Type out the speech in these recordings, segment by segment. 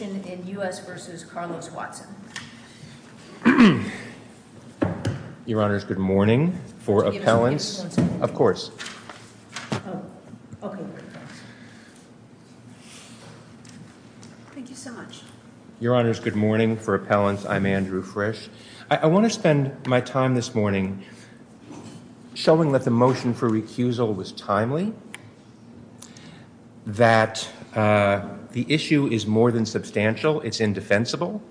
Your Honor, good morning. For appellants, I'm Andrew Frisch. I want to spend my time this morning showing that the motion for recusal was timely, that the issue is more than substantial. It's indefensible,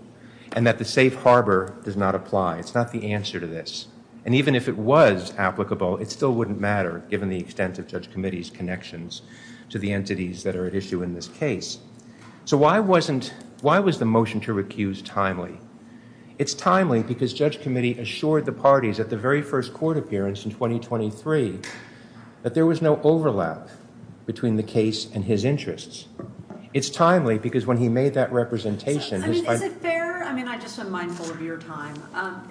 and that the safe harbor does not apply. It's not the answer to this. And even if it was applicable, it still wouldn't matter, given the extent of Judge Committee's connections to the entities that are at issue in this case. So why was the motion to recuse timely? It's timely because Judge Committee assured the parties at the very first court appearance in 2023 that there was no overlap between the case and his interests. It's timely because when he made that representation... I mean, is it fair? I mean, I just am mindful of your time.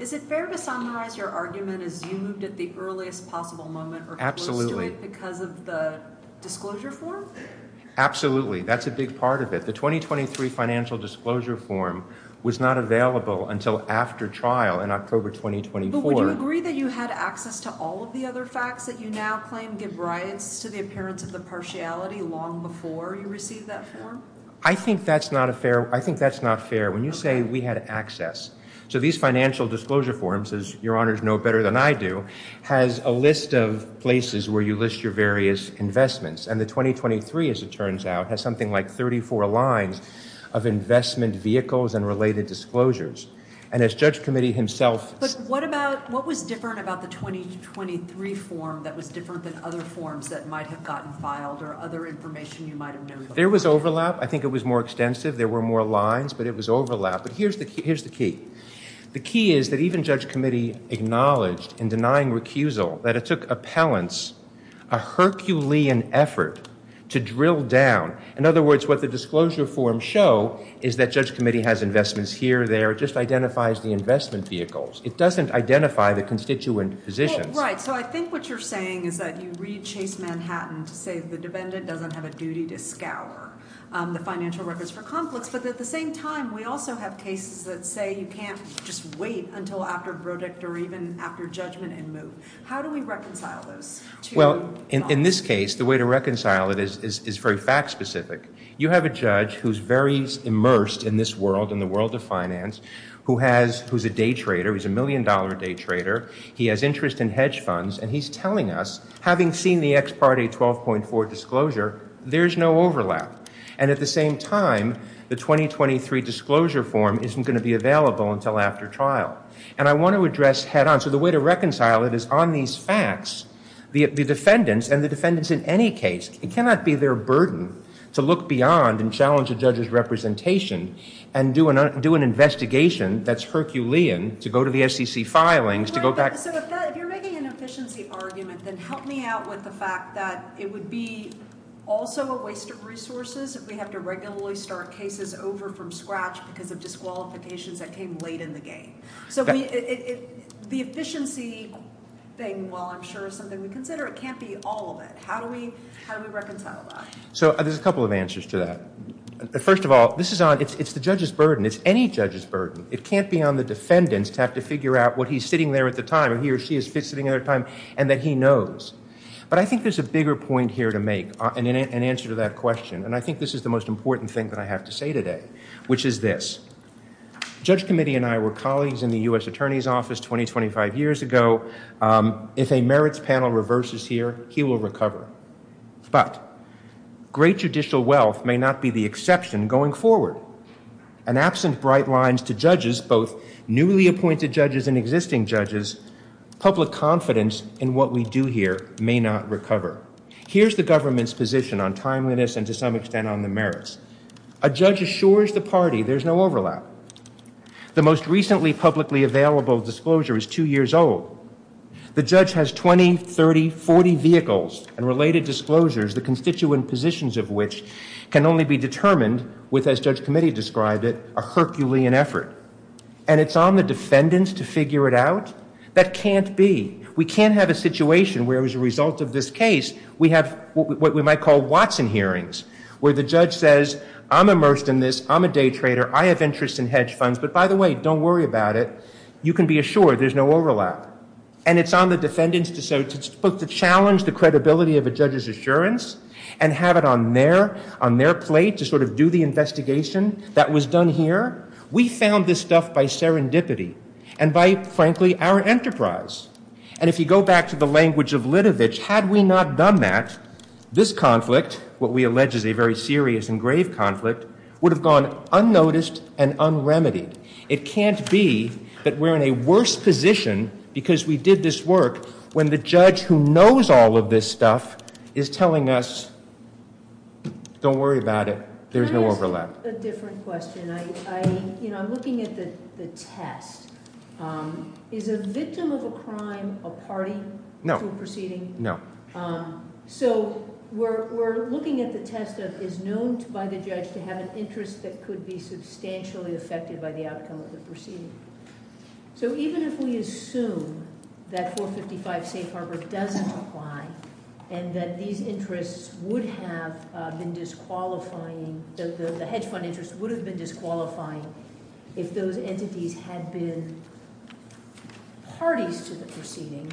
Is it fair to summarize your argument as you moved at the earliest possible moment or... Because of the disclosure form? Absolutely. That's a big part of it. The 2023 financial disclosure form was not available until after trial in October 2024. So would you agree that you had access to all of the other facts that you now claim give rise to the appearance of the partiality long before you received that form? I think that's not fair. I think that's not fair when you say we had access. So these financial disclosure forms, as your honors know better than I do, has a list of places where you list your various investments. And the 2023, as it turns out, has something like 34 lines of investment vehicles and related disclosures. And as Judge Committee himself... But what was different about the 2023 form that was different than other forms that might have gotten filed or other information you might have known? There was overlap. I think it was more extensive. There were more lines, but it was overlap. But here's the key. The key is that even Judge Committee acknowledged in denying recusal that it took appellants a Herculean effort to drill down. In other words, what the disclosure forms show is that Judge Committee has investments here, there. It just identifies the investment vehicles. It doesn't identify the constituent positions. Right. So I think what you're saying is that you read Chase Manhattan to say the defendant doesn't have a duty to scour the financial records for conflicts. But at the same time, we also have cases that say you can't just wait until after verdict or even after judgment and move. How do we reconcile those two? Well, in this case, the way to reconcile it is very fact-specific. You have a judge who's very immersed in this world, in the world of finance, who's a day trader. He's a million-dollar day trader. He has interest in hedge funds, and he's telling us, having seen the ex parte 12.4 disclosure, there's no overlap. And at the same time, the 2023 disclosure form isn't going to be available until after trial. And I want to address head-on. So the way to reconcile it is on these facts, the defendants and the defendants in any case. It cannot be their burden to look beyond and challenge a judge's representation and do an investigation that's Herculean to go to the SEC filings to go back. So if you're making an efficiency argument, then help me out with the fact that it would be also a waste of resources if we have to regularly start cases over from scratch because of disqualifications that came late in the game. So the efficiency thing, while I'm sure is something we consider, it can't be all of it. How do we reconcile that? So there's a couple of answers to that. First of all, it's the judge's burden. It's any judge's burden. It can't be on the defendants to have to figure out what he's sitting there at the time and he or she is sitting there at the time and that he knows. But I think there's a bigger point here to make and an answer to that question. And I think this is the most important thing that I have to say today, which is this. Judge Committee and I were colleagues in the U.S. Attorney's Office 20, 25 years ago. If a merits panel reverses here, he will recover. But great judicial wealth may not be the exception going forward. And absent bright lines to judges, both newly appointed judges and existing judges, public confidence in what we do here may not recover. Here's the government's position on timeliness and to some extent on the merits. A judge assures the party there's no overlap. The most recently publicly available disclosure is two years old. The judge has 20, 30, 40 vehicles and related disclosures, the constituent positions of which can only be determined with, as Judge Committee described it, a Herculean effort. And it's on the defendants to figure it out? That can't be. We can't have a situation where as a result of this case, we have what we might call Watson hearings, where the judge says, I'm immersed in this, I'm a day trader, I have interest in hedge funds. But by the way, don't worry about it. You can be assured there's no overlap. And it's on the defendants to challenge the credibility of a judge's assurance and have it on their plate to sort of do the investigation that was done here. We found this stuff by serendipity and by, frankly, our enterprise. And if you go back to the language of Lidovich, had we not done that, this conflict, what we allege is a very serious and grave conflict, would have gone unnoticed and unremitied. It can't be that we're in a worse position because we did this work when the judge who knows all of this stuff is telling us, don't worry about it, there's no overlap. Can I ask a different question? I'm looking at the test. Is a victim of a crime a party to a proceeding? No. So we're looking at the test of is known by the judge to have an interest that could be substantially affected by the outcome of the proceeding. So even if we assume that 455 Safe Harbor doesn't apply and that these interests would have been disqualifying, the hedge fund interest would have been disqualifying if those entities had been parties to the proceeding.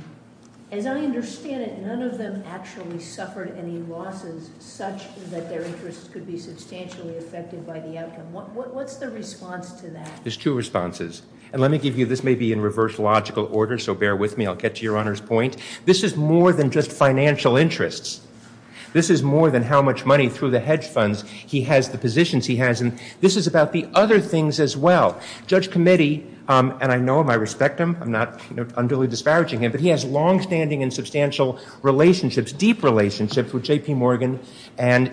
As I understand it, none of them actually suffered any losses such that their interests could be substantially affected by the outcome. What's the response to that? There's two responses. And let me give you, this may be in reverse logical order, so bear with me. I'll get to Your Honor's point. This is more than just financial interests. This is more than how much money through the hedge funds he has, the positions he has. And this is about the other things as well. Judge Committee, and I know him, I respect him, I'm not unduly disparaging him, but he has longstanding and substantial relationships, deep relationships with J.P. Morgan and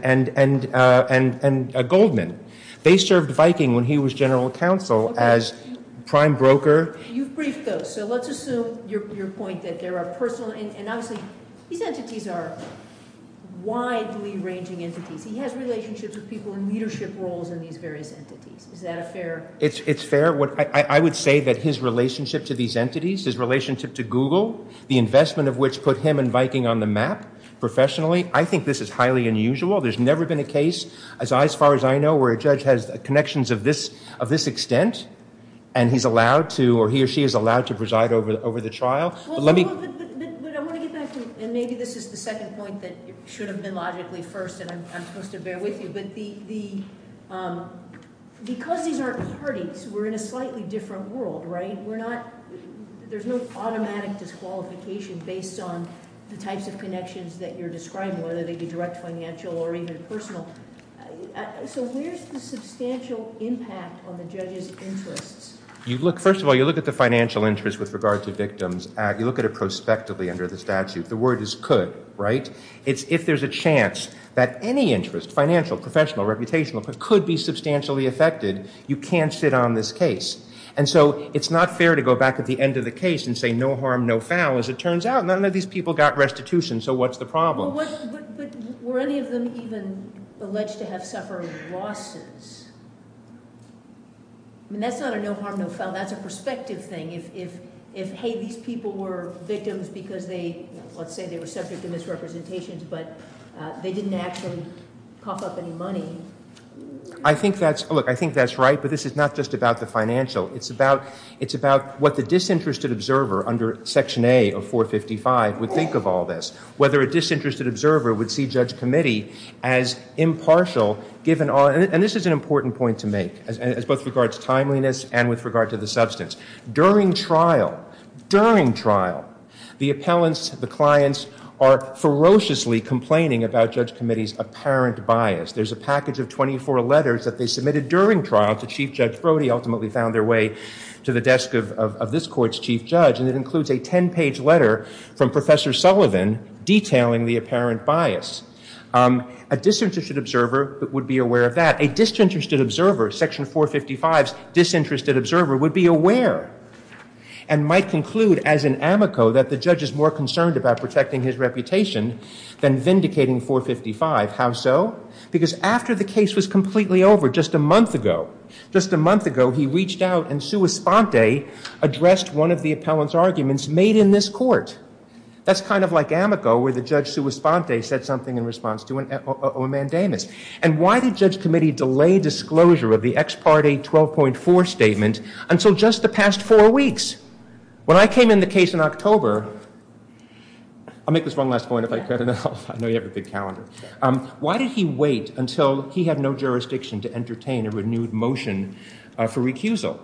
Goldman. They served Viking when he was general counsel as prime broker. You've briefed those, so let's assume your point that there are personal, and obviously these entities are widely ranging entities. He has relationships with people in leadership roles in these various entities. Is that a fair? It's fair. I would say that his relationship to these entities, his relationship to Google, the investment of which put him and Viking on the map professionally, I think this is highly unusual. There's never been a case, as far as I know, where a judge has connections of this extent, and he's allowed to, or he or she is allowed to preside over the trial. But I want to get back to, and maybe this is the second point that should have been logically first, and I'm supposed to bear with you, but because these aren't parties, we're in a slightly different world, right? There's no automatic disqualification based on the types of connections that you're describing, whether they be direct financial or even personal. So where's the substantial impact on the judge's interests? First of all, you look at the financial interest with regard to victims. You look at it prospectively under the statute. The word is could, right? It's if there's a chance that any interest, financial, professional, reputational, could be substantially affected, you can't sit on this case. And so it's not fair to go back at the end of the case and say no harm, no foul. As it turns out, none of these people got restitution, so what's the problem? But were any of them even alleged to have suffered losses? I mean, that's not a no harm, no foul. That's a perspective thing. If, hey, these people were victims because they, let's say they were subject to misrepresentations, but they didn't actually cough up any money. I think that's right, but this is not just about the financial. It's about what the disinterested observer under Section A of 455 would think of all this, whether a disinterested observer would see Judge Committee as impartial given all, and this is an important point to make as both regards timeliness and with regard to the substance. During trial, during trial, the appellants, the clients, are ferociously complaining about Judge Committee's apparent bias. There's a package of 24 letters that they submitted during trial to Chief Judge Brody, ultimately found their way to the desk of this court's chief judge, and it includes a 10-page letter from Professor Sullivan detailing the apparent bias. A disinterested observer would be aware of that. A disinterested observer, Section 455's disinterested observer, would be aware and might conclude as an amico that the judge is more concerned about protecting his reputation than vindicating 455. How so? Because after the case was completely over just a month ago, just a month ago, he reached out and sua sponte addressed one of the appellant's arguments made in this court. That's kind of like amico where the judge sua sponte said something in response to a mandamus. And why did Judge Committee delay disclosure of the ex parte 12.4 statement until just the past four weeks? When I came in the case in October, I'll make this one last point if I could. I know you have a big calendar. Why did he wait until he had no jurisdiction to entertain a renewed motion for recusal?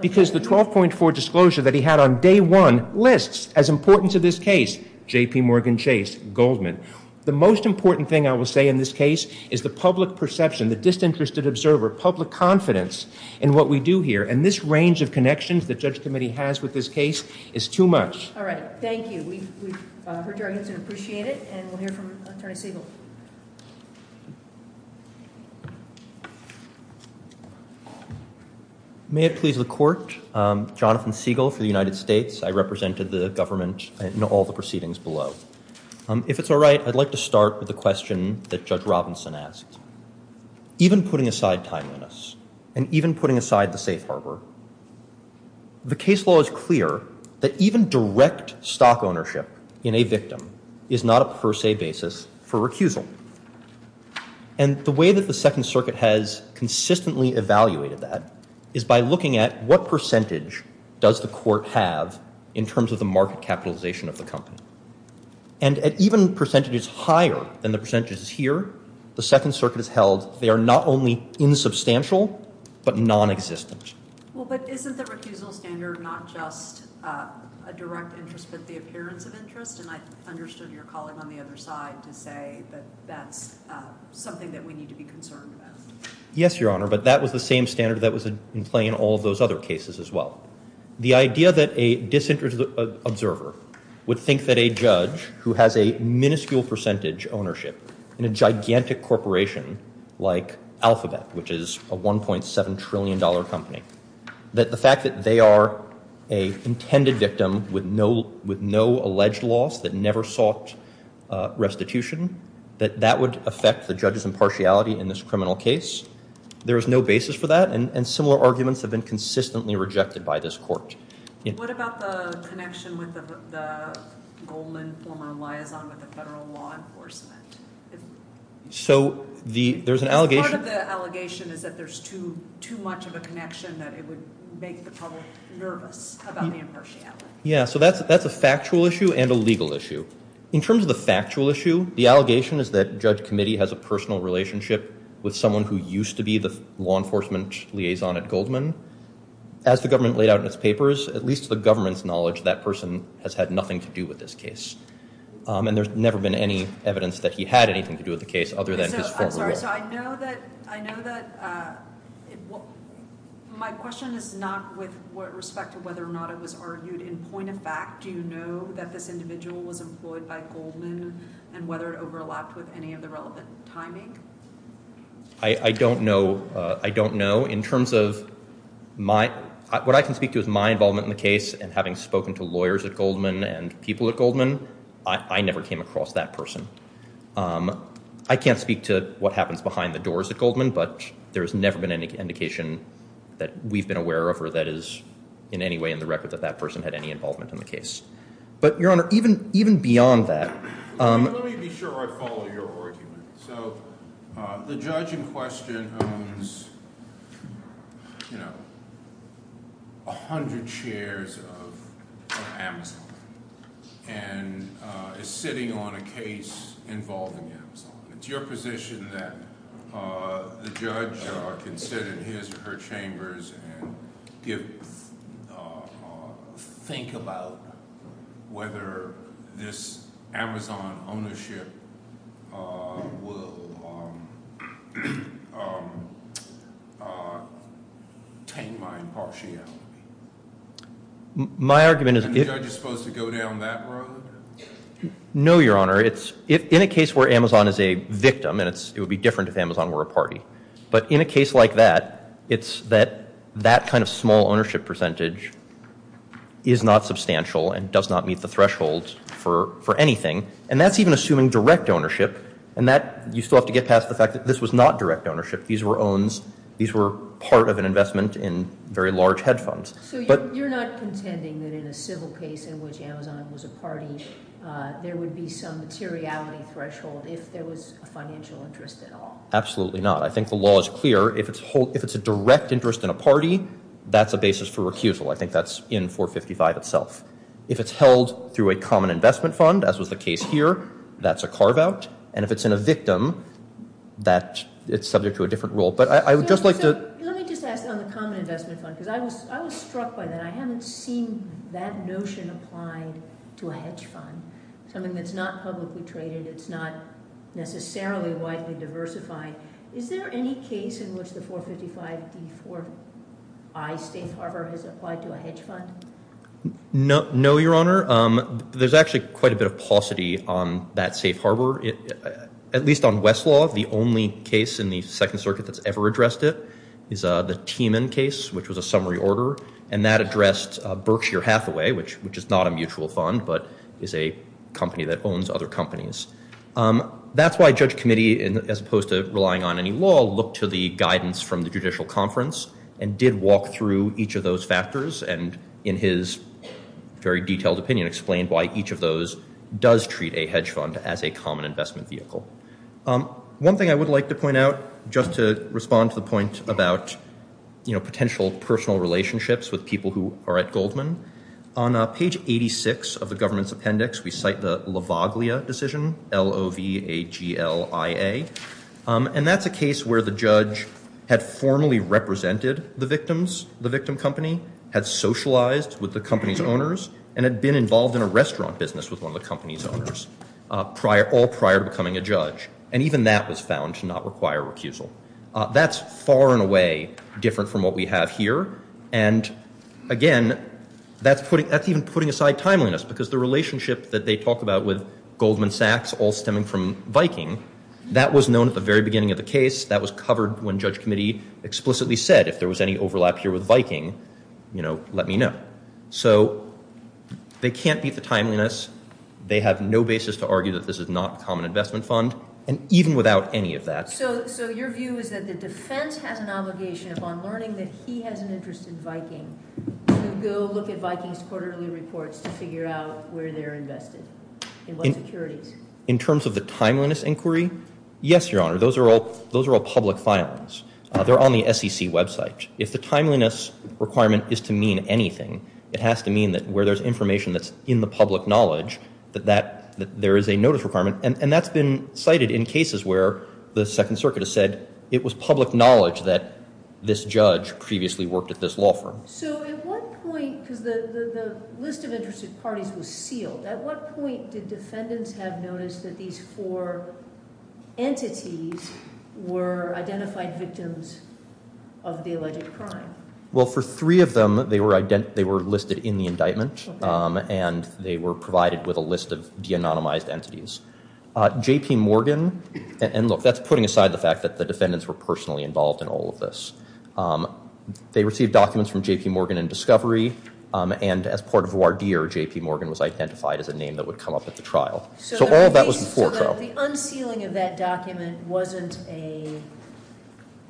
Because the 12.4 disclosure that he had on day one lists, as important to this case, J.P. Morgan Chase Goldman. The most important thing I will say in this case is the public perception, the disinterested observer, public confidence in what we do here. And this range of connections that Judge Committee has with this case is too much. All right. Thank you. We've heard your answer and appreciate it. And we'll hear from Attorney Segal. May it please the Court, Jonathan Segal for the United States. I represented the government in all the proceedings below. If it's all right, I'd like to start with the question that Judge Robinson asked. Even putting aside timeliness and even putting aside the safe harbor, the case law is clear that even direct stock ownership in a victim is not a per se basis for recusal. And the way that the Second Circuit has consistently evaluated that is by looking at what percentage does the court have in terms of the market capitalization of the company. And at even percentages higher than the percentages here, the Second Circuit has held they are not only insubstantial, but nonexistent. Well, but isn't the recusal standard not just a direct interest, but the appearance of interest? And I understood your calling on the other side to say that that's something that we need to be concerned about. Yes, Your Honor, but that was the same standard that was in play in all of those other cases as well. The idea that a disinterested observer would think that a judge who has a minuscule percentage ownership in a gigantic corporation like Alphabet, which is a $1.7 trillion company, that the fact that they are an intended victim with no alleged loss that never sought restitution, that that would affect the judge's impartiality in this criminal case. There is no basis for that, and similar arguments have been consistently rejected by this court. What about the connection with the Goldman former liaison with the federal law enforcement? So there's an allegation. Part of the allegation is that there's too much of a connection that it would make the public nervous about the impartiality. Yeah, so that's a factual issue and a legal issue. In terms of the factual issue, the allegation is that Judge Committee has a personal relationship with someone who used to be the law enforcement liaison at Goldman. As the government laid out in its papers, at least to the government's knowledge, that person has had nothing to do with this case. And there's never been any evidence that he had anything to do with the case other than his former lawyer. I'm sorry, so I know that my question is not with respect to whether or not it was argued in point of fact. Do you know that this individual was employed by Goldman and whether it overlapped with any of the relevant timing? I don't know. In terms of what I can speak to as my involvement in the case and having spoken to lawyers at Goldman and people at Goldman, I never came across that person. I can't speak to what happens behind the doors at Goldman, but there has never been any indication that we've been aware of or that is in any way in the record that that person had any involvement in the case. But, Your Honor, even beyond that- Let me be sure I follow your argument. So the judge in question owns, you know, 100 shares of Amazon and is sitting on a case involving Amazon. It's your position that the judge can sit in his or her chambers and think about whether this Amazon ownership will tame my impartiality? My argument is- And the judge is supposed to go down that road? No, Your Honor. In a case where Amazon is a victim, and it would be different if Amazon were a party, but in a case like that, it's that that kind of small ownership percentage is not substantial and does not meet the threshold for anything. And that's even assuming direct ownership. And you still have to get past the fact that this was not direct ownership. These were owns. These were part of an investment in very large hedge funds. So you're not contending that in a civil case in which Amazon was a party, there would be some materiality threshold if there was a financial interest at all? Absolutely not. I think the law is clear. If it's a direct interest in a party, that's a basis for recusal. I think that's in 455 itself. If it's held through a common investment fund, as was the case here, that's a carve out. And if it's in a victim, it's subject to a different rule. But I would just like to- I'm struck by that. I haven't seen that notion applied to a hedge fund, something that's not publicly traded. It's not necessarily widely diversified. Is there any case in which the 455D4I safe harbor has applied to a hedge fund? No, Your Honor. There's actually quite a bit of paucity on that safe harbor, at least on Westlaw. The only case in the Second Circuit that's ever addressed it is the Tieman case, which was a summary order. And that addressed Berkshire Hathaway, which is not a mutual fund but is a company that owns other companies. That's why Judge Committee, as opposed to relying on any law, looked to the guidance from the Judicial Conference and did walk through each of those factors and, in his very detailed opinion, explained why each of those does treat a hedge fund as a common investment vehicle. One thing I would like to point out, just to respond to the point about potential personal relationships with people who are at Goldman, on page 86 of the government's appendix, we cite the Lavaglia decision, L-O-V-A-G-L-I-A. And that's a case where the judge had formally represented the victims, the victim company, had socialized with the company's owners, and had been involved in a restaurant business with one of the company's owners, all prior to becoming a judge. And even that was found to not require recusal. That's far and away different from what we have here. And, again, that's even putting aside timeliness, because the relationship that they talk about with Goldman Sachs all stemming from Viking, that was known at the very beginning of the case. That was covered when Judge Committee explicitly said, if there was any overlap here with Viking, you know, let me know. So they can't beat the timeliness. They have no basis to argue that this is not a common investment fund, and even without any of that. So your view is that the defense has an obligation upon learning that he has an interest in Viking to go look at Viking's quarterly reports to figure out where they're invested and what securities? In terms of the timeliness inquiry, yes, Your Honor, those are all public filings. They're on the SEC website. If the timeliness requirement is to mean anything, it has to mean that where there's information that's in the public knowledge, that there is a notice requirement. And that's been cited in cases where the Second Circuit has said it was public knowledge that this judge previously worked at this law firm. So at what point, because the list of interested parties was sealed, at what point did defendants have noticed that these four entities were identified victims of the alleged crime? Well, for three of them, they were listed in the indictment, and they were provided with a list of de-anonymized entities. J.P. Morgan, and look, that's putting aside the fact that the defendants were personally involved in all of this. They received documents from J.P. Morgan in discovery, and as part of voir dire, J.P. Morgan was identified as a name that would come up at the trial. So all of that was before trial. So the unsealing of that document wasn't a,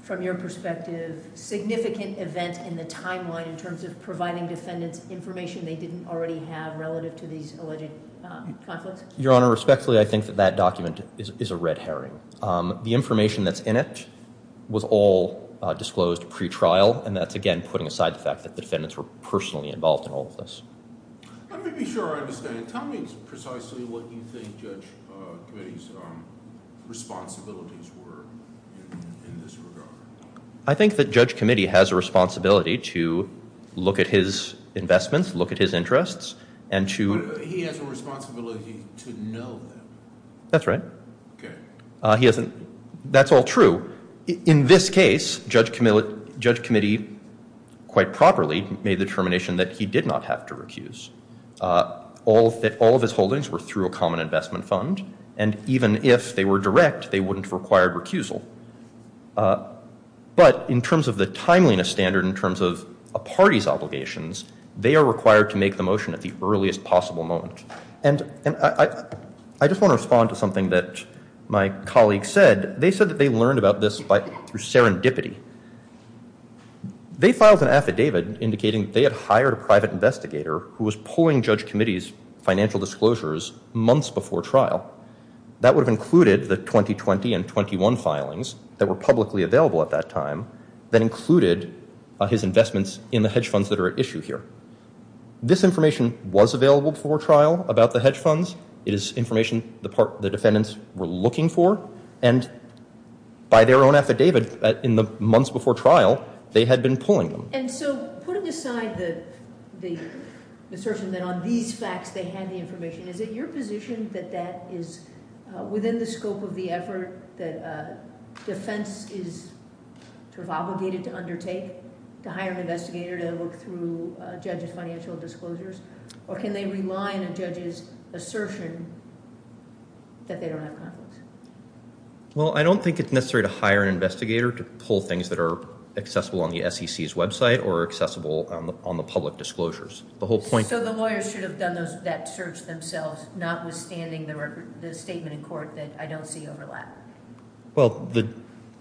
from your perspective, significant event in the timeline in terms of providing defendants information they didn't already have relative to these alleged conflicts? Your Honor, respectfully, I think that that document is a red herring. The information that's in it was all disclosed pre-trial, and that's, again, putting aside the fact that the defendants were personally involved in all of this. Let me be sure I understand. Tell me precisely what you think Judge Committee's responsibilities were in this regard. I think that Judge Committee has a responsibility to look at his investments, look at his interests, and to- But he has a responsibility to know that. That's right. Okay. He hasn't, that's all true. In this case, Judge Committee quite properly made the determination that he did not have to recuse. All of his holdings were through a common investment fund, and even if they were direct, they wouldn't have required recusal. But in terms of the timeliness standard, in terms of a party's obligations, they are required to make the motion at the earliest possible moment. And I just want to respond to something that my colleague said. They said that they learned about this through serendipity. They filed an affidavit indicating they had hired a private investigator who was pulling Judge Committee's financial disclosures months before trial. That would have included the 2020 and 21 filings that were publicly available at that time that included his investments in the hedge funds that are at issue here. This information was available before trial about the hedge funds. It is information the defendants were looking for. And by their own affidavit in the months before trial, they had been pulling them. And so putting aside the assertion that on these facts they had the information, is it your position that that is within the scope of the effort that defense is sort of obligated to undertake to hire an investigator to look through a judge's financial disclosures? Or can they rely on a judge's assertion that they don't have conflicts? Well, I don't think it's necessary to hire an investigator to pull things that are accessible on the SEC's website or accessible on the public disclosures. So the lawyers should have done that search themselves, notwithstanding the statement in court that I don't see overlap? Well,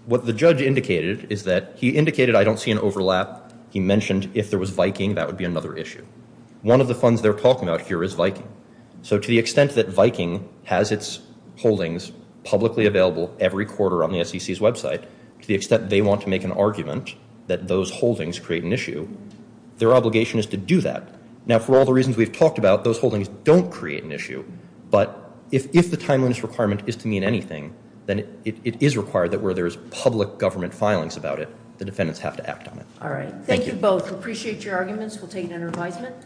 what the judge indicated is that he indicated I don't see an overlap. He mentioned if there was viking, that would be another issue. One of the funds they're talking about here is viking. So to the extent that viking has its holdings publicly available every quarter on the SEC's website, to the extent they want to make an argument that those holdings create an issue, their obligation is to do that. Now, for all the reasons we've talked about, those holdings don't create an issue. But if the timeliness requirement is to mean anything, then it is required that where there is public government filings about it, the defendants have to act on it. All right. Thank you both. Appreciate your arguments. We'll take it under advisement.